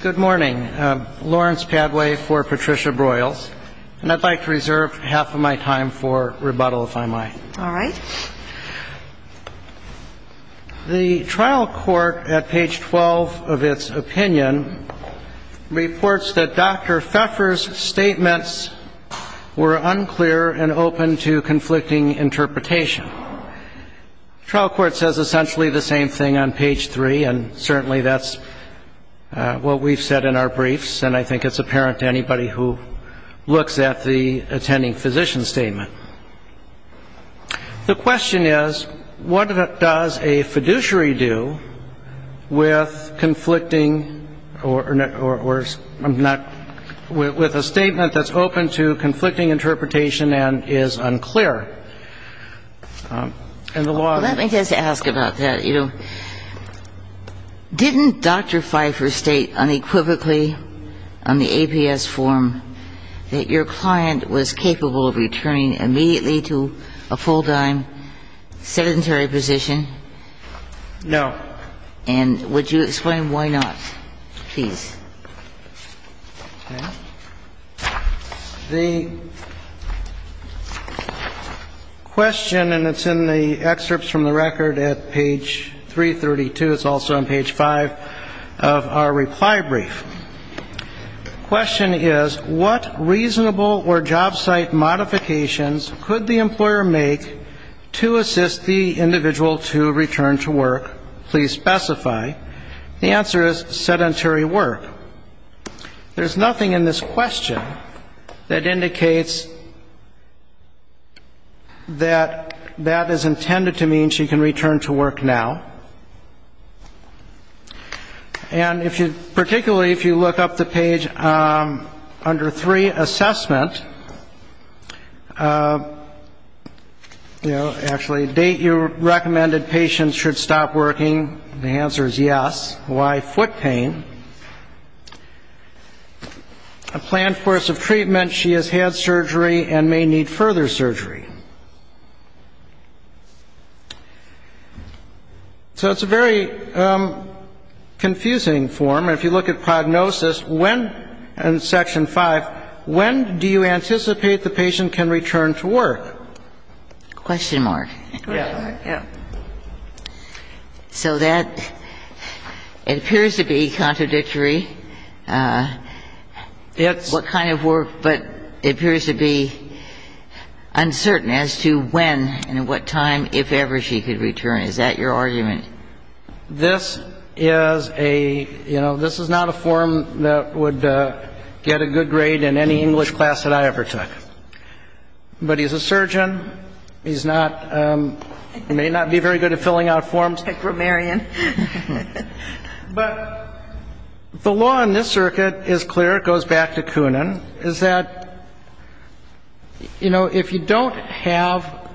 Good morning. Lawrence Padway for Patricia Broyles. And I'd like to reserve half of my time for rebuttal, if I might. All right. The trial court at page 12 of its opinion reports that Dr. Pfeffer's statements were unclear and open to conflicting interpretation. The trial court says essentially the same thing on page 3, and certainly that's what we've said in our briefs. And I think it's apparent to anybody who looks at the attending physician statement. The question is, what does a fiduciary do with conflicting or not – with a statement that's open to conflicting interpretation and is unclear? And the law is – Let me just ask about that. Didn't Dr. Pfeffer state unequivocally on the APS form that your client was capable of returning immediately to a full-time sedentary position? No. And would you explain why not, please? Okay. The question – and it's in the excerpts from the record at page 332. It's also on page 5 of our reply brief. The question is, what reasonable or job site modifications could the employer make to assist the individual to return to work? Please specify. The answer is sedentary work. There's nothing in this question that indicates that that is intended to mean she can return to work now. And if you – particularly if you look up the page under 3, assessment – you know, actually, a date you recommended patients should stop working. The answer is yes. Why foot pain? A planned course of treatment, she has had surgery and may need further surgery. So it's a very confusing form. If you look at prognosis, when – in section 5 – when do you anticipate the patient can return to work? Question mark. Yeah. Yeah. So that – it appears to be contradictory, what kind of work, but it appears to be uncertain. As to when and at what time, if ever, she could return. Is that your argument? This is a – you know, this is not a form that would get a good grade in any English class that I ever took. But he's a surgeon. He's not – he may not be very good at filling out forms. He's a grammarian. But the law in this circuit is clear. It goes back to Koonin, is that, you know, if you don't have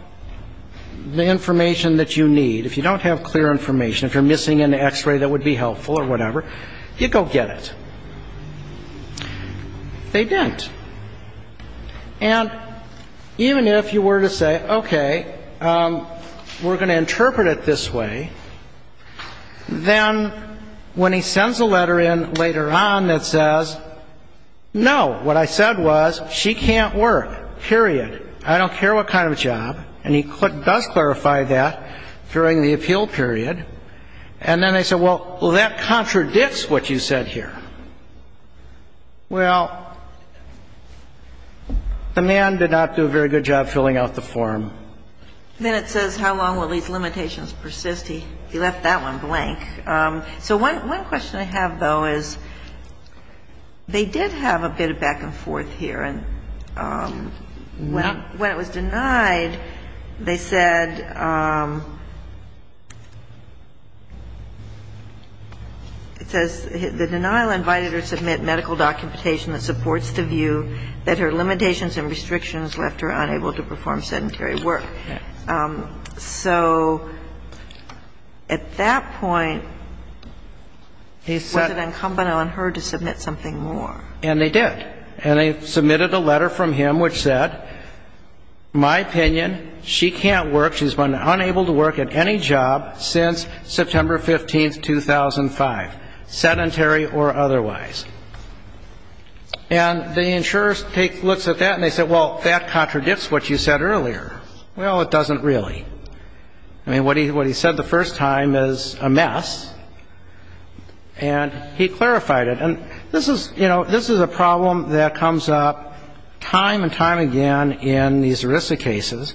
the information that you need, if you don't have clear information, if you're missing an X-ray that would be helpful or whatever, you go get it. They didn't. And even if you were to say, okay, we're going to interpret it this way, then when he sends a letter in later on that says, no, what I said was she can't work, period, I don't care what kind of job, and he does clarify that during the appeal period, and then they say, well, that contradicts what you said here. Well, the man did not do a very good job filling out the form. Then it says, how long will these limitations persist? He left that one blank. So one question I have, though, is they did have a bit of back and forth here. And when it was denied, they said it says the denial invited her to submit medical documentation that supports the view that her limitations and restrictions left her unable to perform sedentary work. So at that point, was it incumbent on her to submit something more? And they did. And they submitted a letter from him which said, my opinion, she can't work. She's been unable to work at any job since September 15, 2005, sedentary or otherwise. And the insurer looks at that and they say, well, that contradicts what you said earlier. Well, it doesn't really. I mean, what he said the first time is a mess. And he clarified it. And this is, you know, this is a problem that comes up time and time again in these ERISA cases.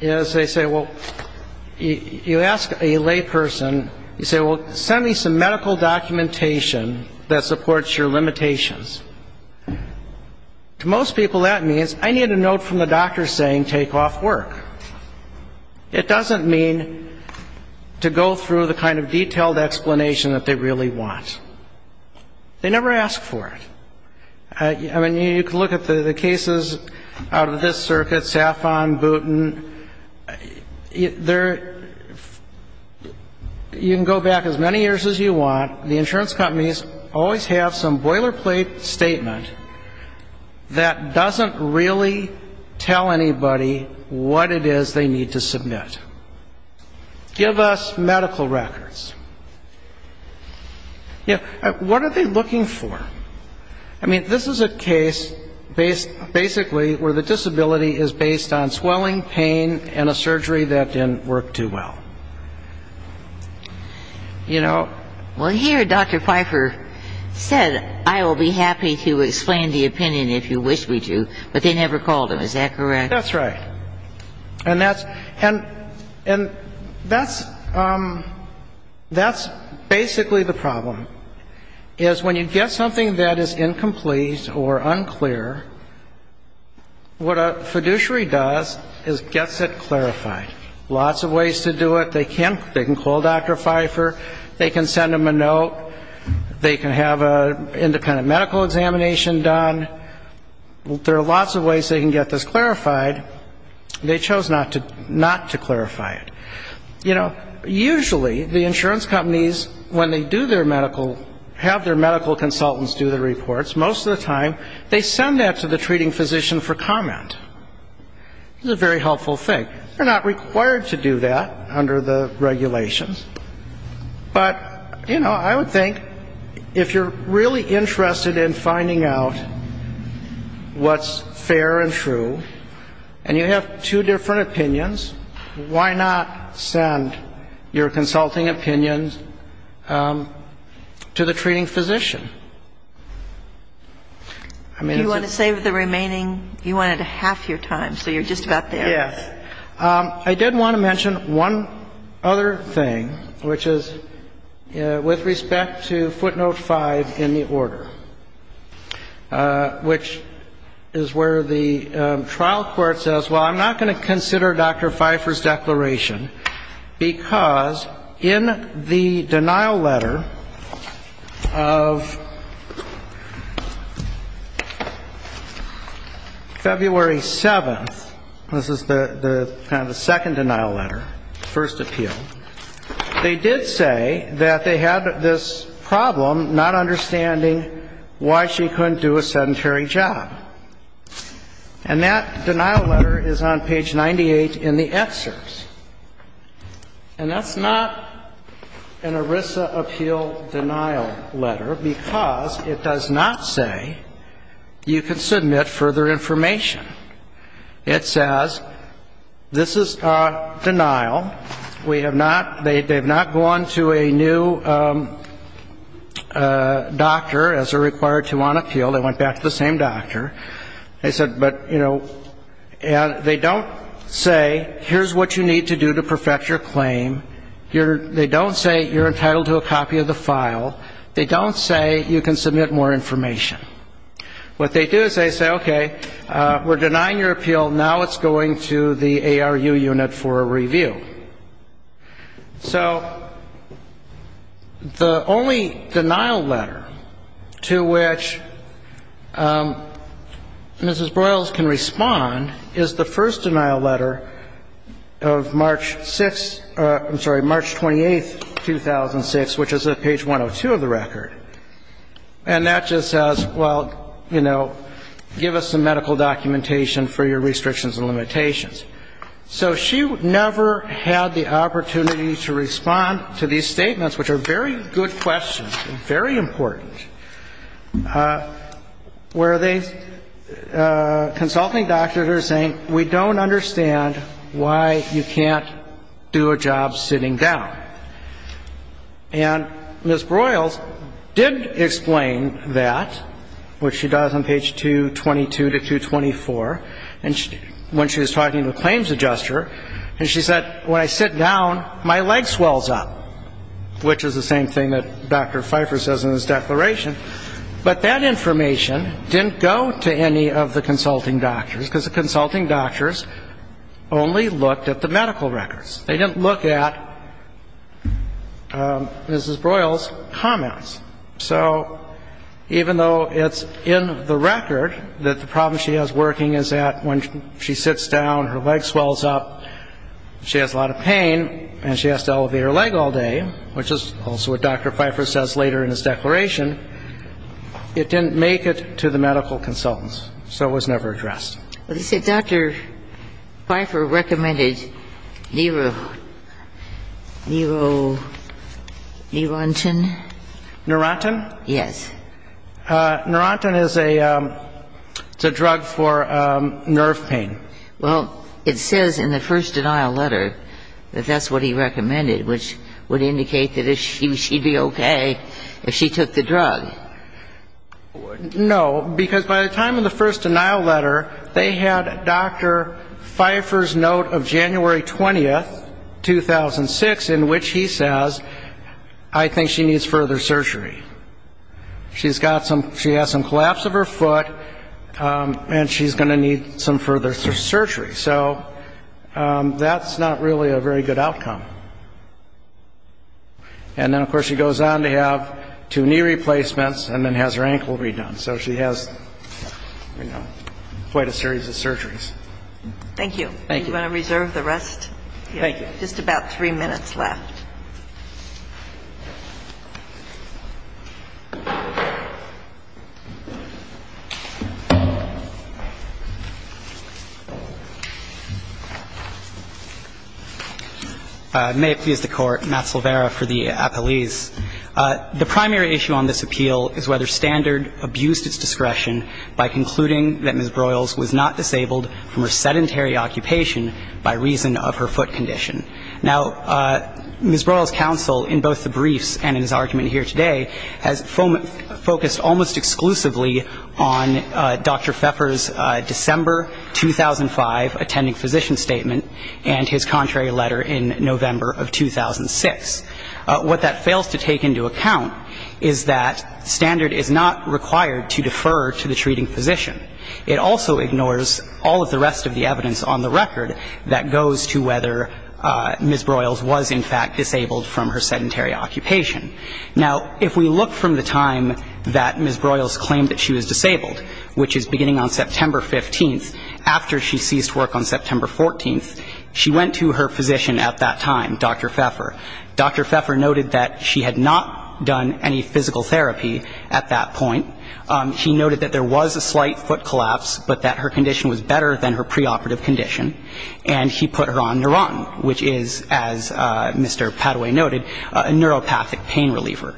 They say, well, you ask a layperson, you say, well, send me some medical documentation that supports your limitations. To most people, that means I need a note from the doctor saying take off work. It doesn't mean to go through the kind of detailed explanation that they really want. They never ask for it. I mean, you can look at the cases out of this circuit, Safon, Booten. You can go back as many years as you want. The insurance companies always have some boilerplate statement that doesn't really tell anybody what it is they need to submit. Give us medical records. What are they looking for? I mean, this is a case basically where the disability is based on swelling, pain, and a surgery that didn't work too well. You know? Well, here Dr. Pfeiffer said, I will be happy to explain the opinion if you wish me to. But they never called him. Is that correct? That's right. And that's basically the problem, is when you get something that is incomplete or unclear, what a fiduciary does is gets it clarified. Lots of ways to do it. They can call Dr. Pfeiffer. They can send him a note. They can have an independent medical examination done. There are lots of ways they can get this clarified. They chose not to clarify it. You know, usually the insurance companies, when they do their medical, have their medical consultants do the reports, most of the time they send that to the treating physician for comment. It's a very helpful thing. They're not required to do that under the regulations. But, you know, I would think if you're really interested in finding out what's fair and true, and you have two different opinions, why not send your consulting opinions to the treating physician? Do you want to save the remaining? You wanted half your time, so you're just about there. Yes. Okay. I did want to mention one other thing, which is with respect to footnote 5 in the order, which is where the trial court says, well, I'm not going to consider Dr. Pfeiffer's declaration, because in the denial letter of February 7th, this is the date, kind of the second denial letter, first appeal, they did say that they had this problem not understanding why she couldn't do a sedentary job. And that denial letter is on page 98 in the excerpts. And that's not an ERISA appeal denial letter, because it does not say you can submit further information. It says, this is denial. We have not, they have not gone to a new doctor, as they're required to on appeal. They went back to the same doctor. They said, but, you know, they don't say, here's what you need to do to perfect your claim. They don't say you're entitled to a copy of the file. They don't say you can submit more information. What they do is they say, okay, we're denying your appeal. Now it's going to the ARU unit for a review. So the only denial letter to which Mrs. Broyles can respond is the first denial letter of March 6th, I'm sorry, March 28th, 2006, which is at page 102 of the record. And that just says, well, you know, give us some medical documentation for your restrictions and limitations. So she never had the opportunity to respond to these statements, which are very good questions, very important, where they, consulting doctors are saying, we don't understand why you can't do a job sitting down. And Mrs. Broyles did explain that, which she does on page 222 to 224, when she was talking to the claims adjuster, and she said, when I sit down, my leg swells up, which is the same thing that Dr. Pfeiffer says in his declaration. But that information didn't go to any of the consulting doctors, because the consulting doctors only looked at the medical records. They didn't look at Mrs. Broyles' comments. So even though it's in the record that the problem she has working is that when she sits down, her leg swells up, she has a lot of pain, and she has to elevate her leg all day, which is also what Dr. Pfeiffer says later in his declaration, it didn't make it to the medical consultants, so it was never addressed. Well, he said Dr. Pfeiffer recommended Neuro, Neuro, Neurontin. Neurontin? Yes. Neurontin is a, it's a drug for nerve pain. Well, it says in the first denial letter that that's what he recommended, which would indicate that she'd be okay if she took the drug. No, because by the time of the first denial letter, they had Dr. Pfeiffer's note of January 20, 2006, in which he says, I think she needs further surgery. She's got some, she has some collapse of her foot, and she's going to need some further surgery. So that's not really a very good outcome. And then, of course, she goes on to have two knee replacements and then has her ankle redone. So she has, you know, quite a series of surgeries. Thank you. Thank you. Do you want to reserve the rest? Thank you. Just about three minutes left. May it please the Court. Matt Silvera for the appellees. The primary issue on this appeal is whether Standard abused its discretion by concluding that Ms. Broyles was not disabled from her sedentary occupation by reason of her foot condition. Now, Ms. Broyles' counsel in both the briefs and in his argument here today has focused almost exclusively on Dr. Pfeiffer's December 2005 attending physician statement and his contrary letter in November of 2006. What that fails to take into account is that Standard is not required to defer to the treating physician. It also ignores all of the rest of the evidence on the record that goes to whether Ms. Broyles was in fact disabled from her sedentary occupation. Now, if we look from the time that Ms. Broyles claimed that she was disabled, which is beginning on September 15th, after she ceased work on September 14th, she went to her physician at that time, Dr. Pfeiffer. Dr. Pfeiffer noted that she had not done any physical therapy at that point. He noted that there was a slight foot collapse, but that her condition was better than her preoperative condition. And he put her on Neurontin, which is, as Mr. Padaway noted, a neuropathic pain reliever.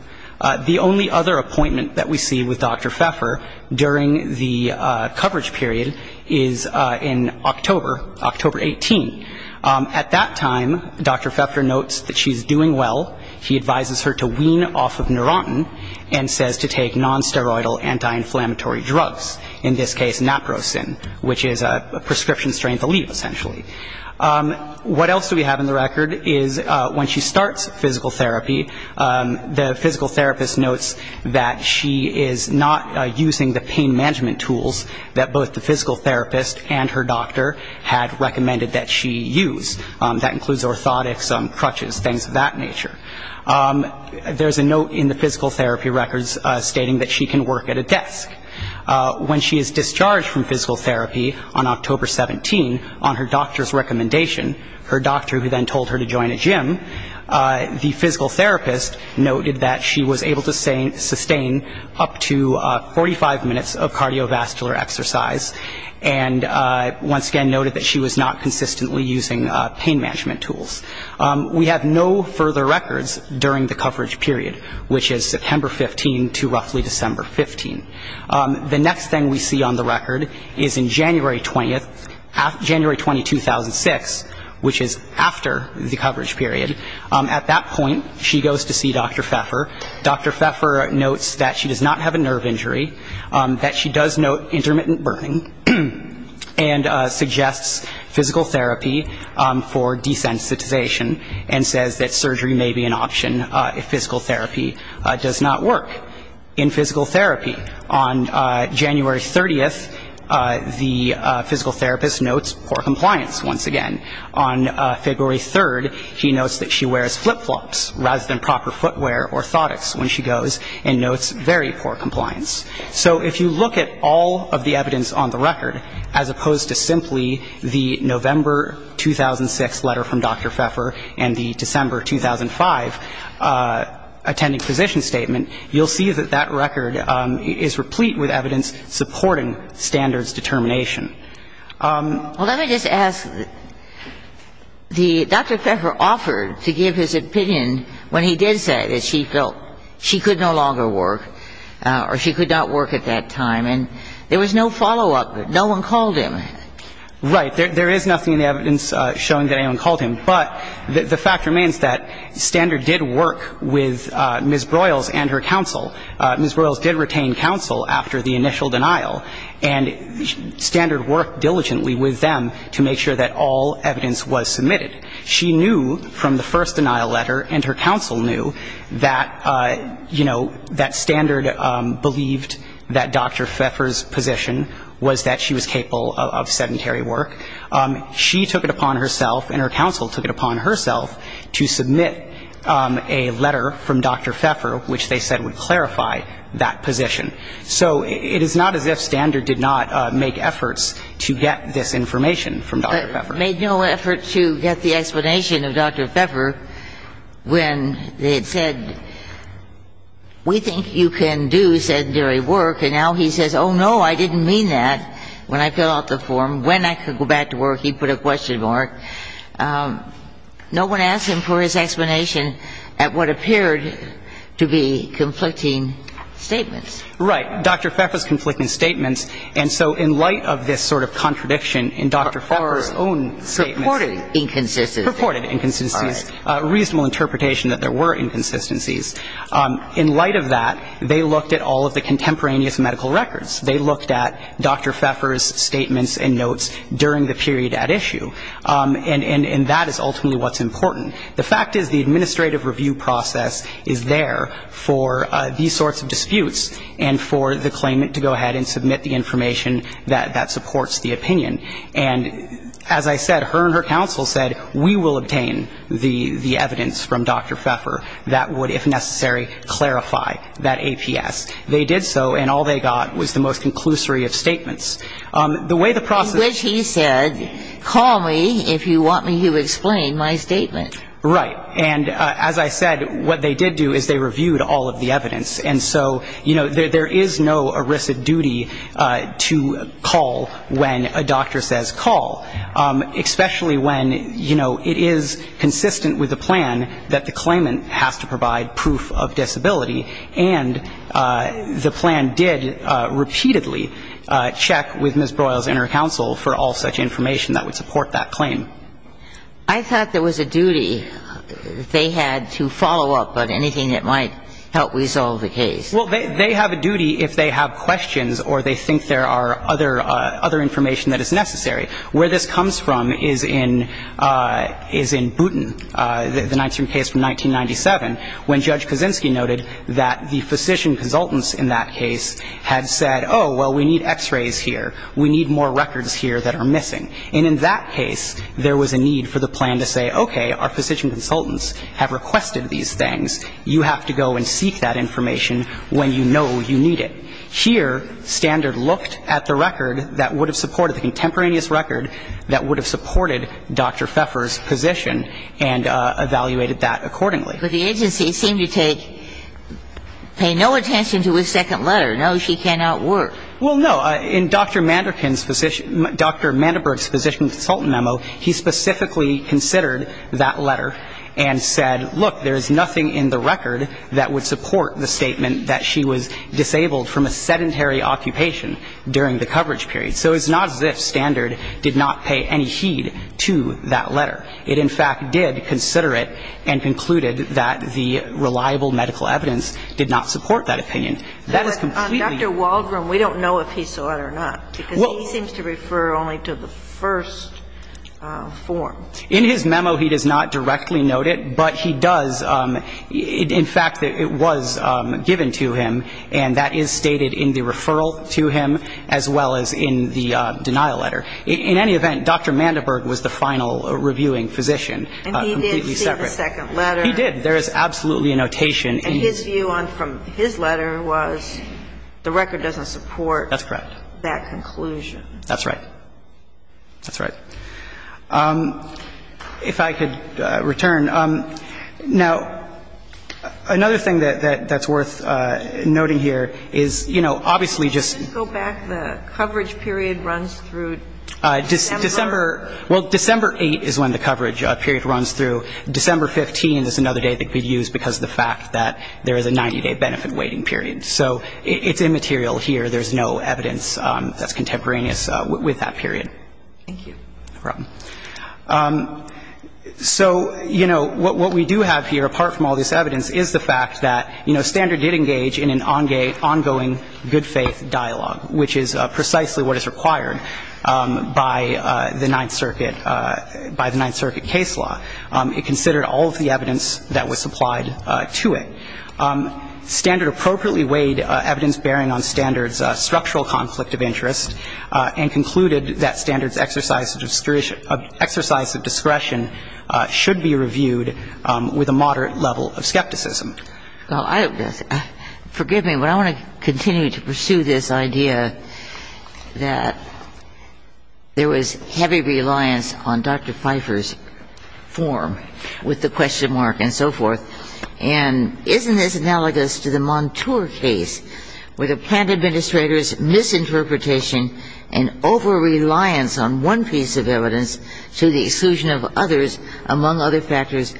The only other appointment that we see with Dr. Pfeiffer during the coverage period is in October, October 18. At that time, Dr. Pfeiffer notes that she's doing well. He advises her to wean off of Neurontin and says to take nonsteroidal anti-inflammatory drugs, in this case naprosyn, which is a prescription strain to leave, essentially. What else do we have in the record is when she starts physical therapy, the physical therapist notes that she is not using the pain management tools that both the physical therapist and her doctor had recommended that she use. That includes orthotics, crutches, things of that nature. There's a note in the physical therapy records stating that she can work at a desk. When she is discharged from physical therapy on October 17 on her doctor's recommendation, her doctor who then told her to join a gym, the physical therapist noted that she was able to sustain up to 45 minutes of cardiovascular exercise, and once again noted that she was not consistently using pain management tools. We have no further records during the coverage period, which is September 15 to roughly December 15. The next thing we see on the record is in January 20, 2006, which is after the coverage period. At that point, she goes to see Dr. Pfeiffer. Dr. Pfeiffer notes that she does not have a nerve injury, that she does note intermittent burning, and suggests physical therapy for desensitization, and says that surgery may be an option if physical therapy does not work. In physical therapy, on January 30, the physical therapist notes for compliance once again. On February 3, he notes that she wears flip-flops rather than proper footwear or orthotics when she goes and notes very poor compliance. So if you look at all of the evidence on the record, as opposed to simply the November 2006 letter from Dr. Pfeiffer and the December 2005 attending physician statement, you'll see that that record is replete with evidence supporting standards determination. Well, let me just ask, the Dr. Pfeiffer offered to give his opinion when he did say that she felt she could no longer work or she could not work at that time, and there was no follow-up. No one called him. Right. There is nothing in the evidence showing that anyone called him. But the fact remains that Standard did work with Ms. Broyles and her counsel. Ms. Broyles did retain counsel after the initial denial, and Standard worked diligently with them to make sure that all evidence was submitted. She knew from the first denial letter and her counsel knew that, you know, that Standard believed that Dr. Pfeiffer's position was that she was capable of sedentary work. She took it upon herself and her counsel took it upon herself to submit a letter from Dr. Pfeiffer, which they said would clarify that position. So it is not as if Standard did not make efforts to get this information from Dr. Pfeiffer. But made no effort to get the explanation of Dr. Pfeiffer when they had said, we think you can do sedentary work. And now he says, oh, no, I didn't mean that when I filled out the form. When I could go back to work, he put a question mark. No one asked him for his explanation at what appeared to be conflicting statements. Right. Dr. Pfeiffer's conflicting statements. And so in light of this sort of contradiction in Dr. Pfeiffer's own statements Or purported inconsistencies. Purported inconsistencies, reasonable interpretation that there were inconsistencies. In light of that, they looked at all of the contemporaneous medical records. They looked at Dr. Pfeiffer's statements and notes during the period at issue. And that is ultimately what's important. The fact is the administrative review process is there for these sorts of disputes and for the claimant to go ahead and submit the information that supports the opinion. And as I said, her and her counsel said, we will obtain the evidence from Dr. Pfeiffer that would, if necessary, clarify that APS. They did so and all they got was the most conclusory of statements. In which he said, call me if you want me to explain my statement. Right. And as I said, what they did do is they reviewed all of the evidence. And so, you know, there is no arisen duty to call when a doctor says call. Especially when, you know, it is consistent with the plan that the claimant has to provide proof of disability. And the plan did repeatedly check with Ms. Broyles and her counsel for all such information that would support that claim. I thought there was a duty they had to follow up on anything that might help resolve the case. Well, they have a duty if they have questions or they think there are other information that is necessary. Where this comes from is in Booton, the Ninth Street case from 1997, when Judge Kaczynski noted that the physician consultants in that case had said, oh, well, we need x-rays here. We need more records here that are missing. And in that case, there was a need for the plan to say, okay, our physician consultants have requested these things. You have to go and seek that information when you know you need it. Here, Standard looked at the record that would have supported the contemporaneous record that would have supported Dr. Pfeiffer's position and evaluated that accordingly. But the agency seemed to take – pay no attention to his second letter. No, she cannot work. Well, no. In Dr. Manderkin's physician – Dr. Manderberg's physician consultant memo, he specifically considered that letter and said, look, there is nothing in the record that would support the statement that she was disabled from a sedentary occupation during the coverage period. So it's not as if Standard did not pay any heed to that letter. It, in fact, did consider it and concluded that the reliable medical evidence did not support that opinion. That is completely – But Dr. Waldron, we don't know if he saw it or not, because he seems to refer only to the first form. In his memo, he does not directly note it, but he does – in fact, it was given to him, and that is stated in the referral to him as well as in the denial letter. In any event, Dr. Manderberg was the final reviewing physician. And he did see the second letter. He did. There is absolutely a notation. And his view on – from his letter was the record doesn't support that conclusion. That's correct. That's right. That's right. If I could return. Now, another thing that's worth noting here is, you know, obviously just – December – well, December 8th is when the coverage period runs through. December 15th is another date that could be used because of the fact that there is a 90-day benefit waiting period. So it's immaterial here. There's no evidence that's contemporaneous with that period. Thank you. You're welcome. So, you know, what we do have here, apart from all this evidence, is the fact that, you know, Standard did engage in an ongoing good-faith dialogue, which is precisely what is required by the Ninth Circuit – by the Ninth Circuit case law. It considered all of the evidence that was supplied to it. Standard appropriately weighed evidence bearing on Standard's structural conflict of interest and concluded that Standard's exercise of discretion should be reviewed with a moderate level of skepticism. Well, forgive me, but I want to continue to pursue this idea that there was heavy reliance on Dr. Pfeiffer's form with the question mark and so forth. And isn't this analogous to the Montour case where the plant administrator's misinterpretation and over-reliance on one piece of evidence to the exclusion of others among other factors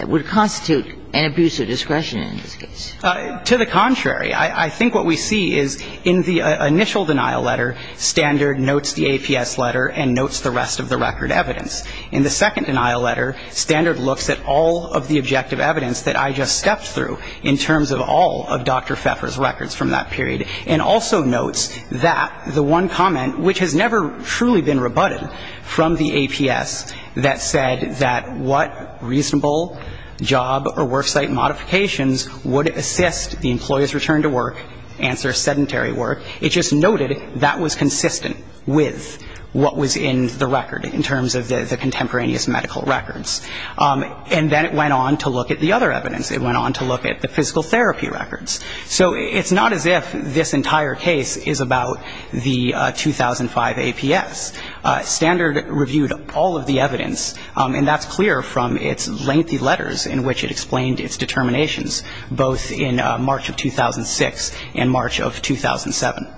would constitute an abuse of discretion in this case? To the contrary. I think what we see is in the initial denial letter, Standard notes the APS letter and notes the rest of the record evidence. In the second denial letter, Standard looks at all of the objective evidence that I just stepped through in terms of all of Dr. Pfeiffer's records from that period and also notes that the one comment which has never truly been rebutted from the APS that said that what reasonable job or work site modifications would assist the employee's return to work answers sedentary work. It just noted that was consistent with what was in the record in terms of the contemporaneous medical records. And then it went on to look at the other evidence. It went on to look at the physical therapy records. So it's not as if this entire case is about the 2005 APS. Standard reviewed all of the evidence, and that's clear from its lengthy letters in which it explained its determinations, both in March of 2006 and March of 2007.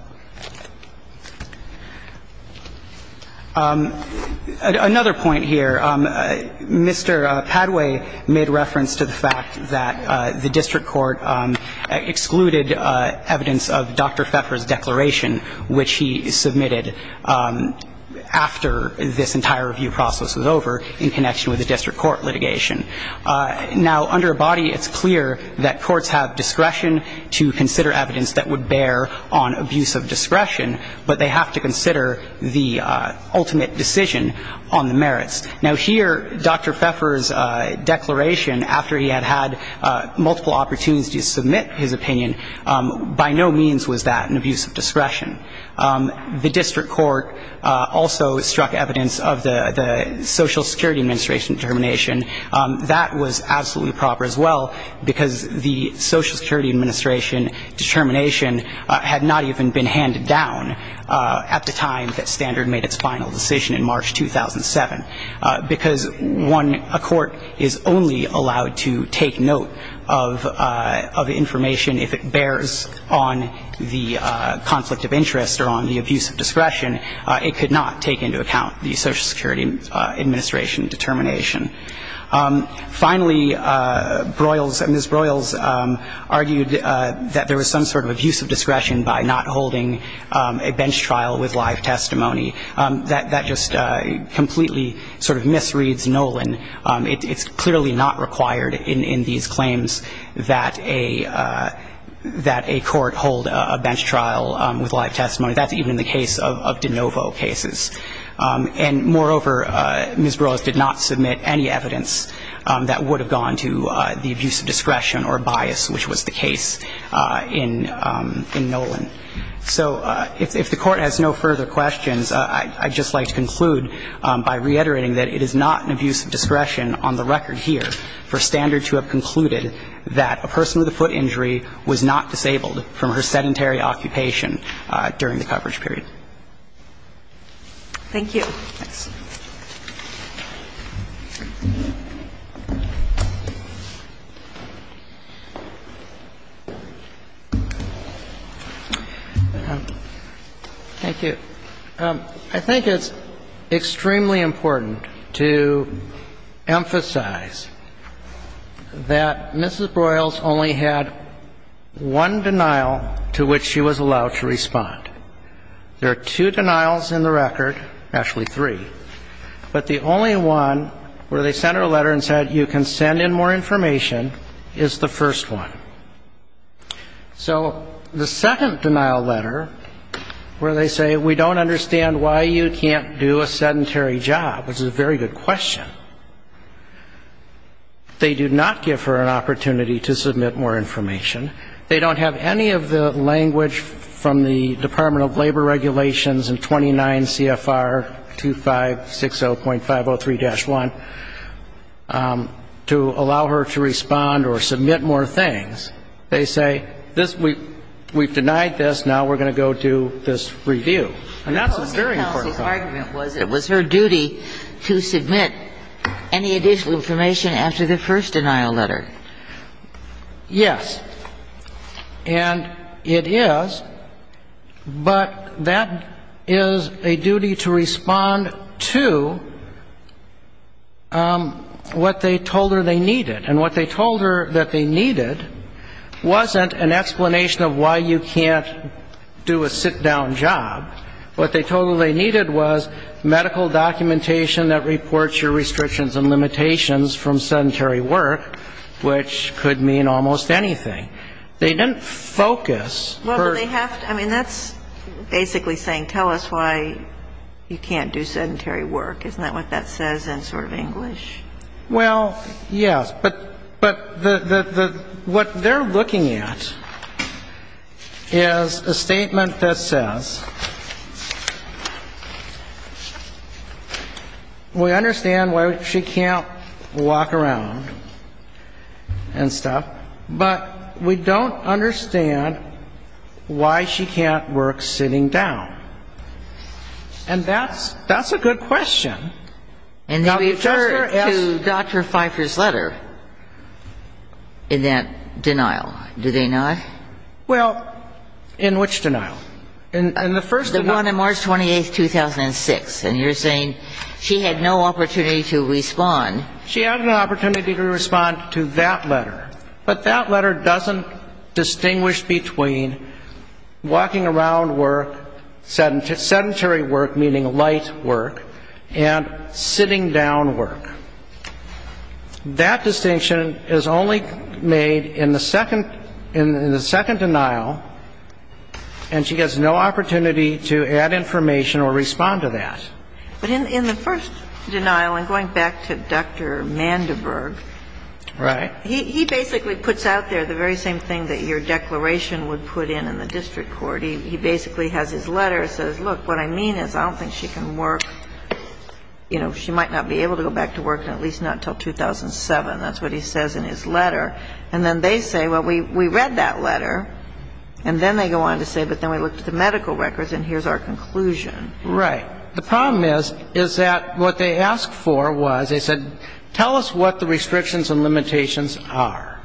Another point here, Mr. Padway made reference to the fact that the district court excluded evidence of Dr. Pfeiffer's declaration, which he submitted after this entire review process was over in connection with the district court litigation. Now, under Abadie, it's clear that courts have discretion to consider evidence that would bear on abuse of discretion, but they have to consider the ultimate decision on the merits. Now, here, Dr. Pfeiffer's declaration, after he had had multiple opportunities to submit his opinion, by no means was that an abuse of discretion. The district court also struck evidence of the Social Security Administration determination. That was absolutely proper as well, because the Social Security Administration determination had not even been handed down at the time that Standard made its final decision in March 2007, because one, a court is only allowed to take note of information if it bears on the conflict of interest or on the abuse of discretion. It could not take into account the Social Security Administration determination. Finally, Broyles and Ms. Broyles argued that there was some sort of abuse of discretion by not holding a bench trial with live testimony. That just completely sort of misreads Nolan. It's clearly not required in these claims that a court hold a bench trial with live testimony. That's even in the case of de novo cases. And moreover, Ms. Broyles did not submit any evidence that would have gone to the abuse of discretion or bias, which was the case in Nolan. So if the Court has no further questions, I'd just like to conclude by reiterating that it is not an abuse of discretion on the record here for Standard to have concluded that a person with a foot injury was not disabled from her sedentary occupation during the coverage period. Thank you. Thank you. I think it's extremely important to emphasize that Mrs. Broyles only had one denial in the record, actually three, but the only one where they sent her a letter and said you can send in more information is the first one. So the second denial letter where they say we don't understand why you can't do a sedentary job, which is a very good question, they do not give her an opportunity to submit more information. They don't have any of the language from the Department of Labor Regulations in 29 CFR 2560.503-1 to allow her to respond or submit more things. They say we've denied this. Now we're going to go do this review. And that's a very important point. The policy argument was it was her duty to submit any additional information after the first denial letter. Yes, and it is, but that is a duty to respond to what they told her they needed. And what they told her that they needed wasn't an explanation of why you can't do a sit-down job. What they told her they needed was medical documentation that reports your restrictions and limitations from sedentary work, which could mean almost anything. They didn't focus. Well, they have to. I mean, that's basically saying tell us why you can't do sedentary work. Isn't that what that says in sort of English? Well, yes. But what they're looking at is a statement that says we understand why she can't do a sedentary job, why she can't walk around and stuff, but we don't understand why she can't work sitting down. And that's a good question. And they refer to Dr. Pfeiffer's letter in that denial, do they not? Well, in which denial? In the first denial. The one on March 28, 2006. And you're saying she had no opportunity to respond. She had an opportunity to respond to that letter. But that letter doesn't distinguish between walking around work, sedentary work, meaning light work, and sitting down work. That distinction is only made in the second denial, and she has no opportunity to add information or respond to that. But in the first denial, and going back to Dr. Mandeberg. Right. He basically puts out there the very same thing that your declaration would put in in the district court. He basically has his letter, says, look, what I mean is I don't think she can work, you know, she might not be able to go back to work, and at least not until 2007. That's what he says in his letter. And then they say, well, we read that letter. And then they go on to say, but then we looked at the medical records, and here's our conclusion. Right. The problem is, is that what they asked for was, they said, tell us what the restrictions and limitations are.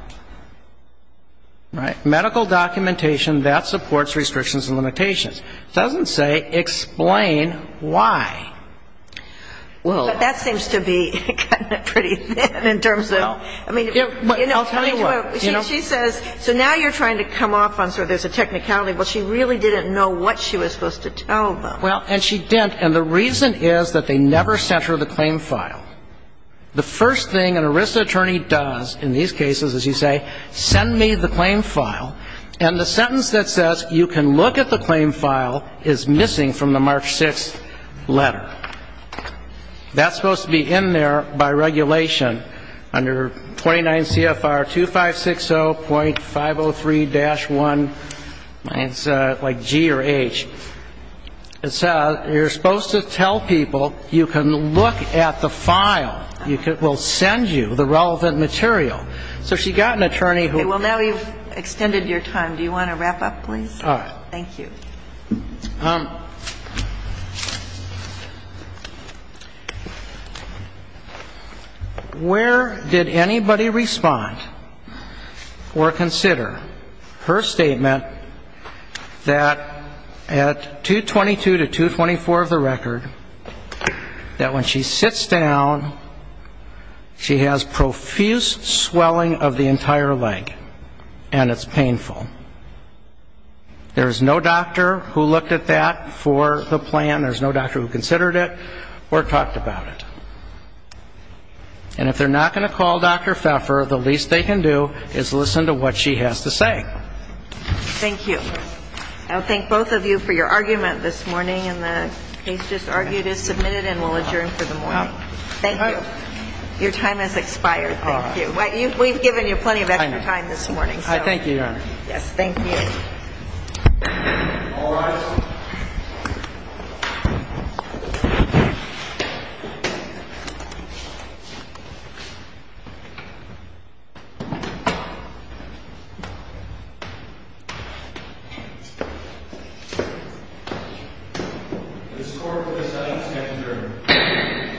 Right. Medical documentation, that supports restrictions and limitations. It doesn't say explain why. Well. But that seems to be kind of pretty thin in terms of, I mean, you know. I'll tell you what. She says, so now you're trying to come off on sort of there's a technicality. Well, she really didn't know what she was supposed to tell them. Well, and she didn't. And the reason is that they never sent her the claim file. The first thing an ERISA attorney does in these cases is you say, send me the claim file. And the sentence that says you can look at the claim file is missing from the March 6th letter. That's supposed to be in there by regulation under 29 CFR 2560.503-1. It's like G or H. It says you're supposed to tell people you can look at the file. We'll send you the relevant material. So she got an attorney who. Okay. Well, now we've extended your time. Do you want to wrap up, please? All right. Thank you. Where did anybody respond or consider her statement that at 222 to 224 of the record, that when she sits down, she has profuse swelling of the entire leg, and it's painful. There is no doctor who looked at that for the plan. There's no doctor who considered it or talked about it. And if they're not going to call Dr. Pfeffer, the least they can do is listen to what she has to say. Thank you. I'll thank both of you for your argument this morning, and the case just argued is submitted, and we'll adjourn for the morning. Thank you. Your time has expired. Thank you. We've given you plenty of extra time this morning. I thank you, Your Honor. Yes, thank you. All rise. This court will decide to adjourn.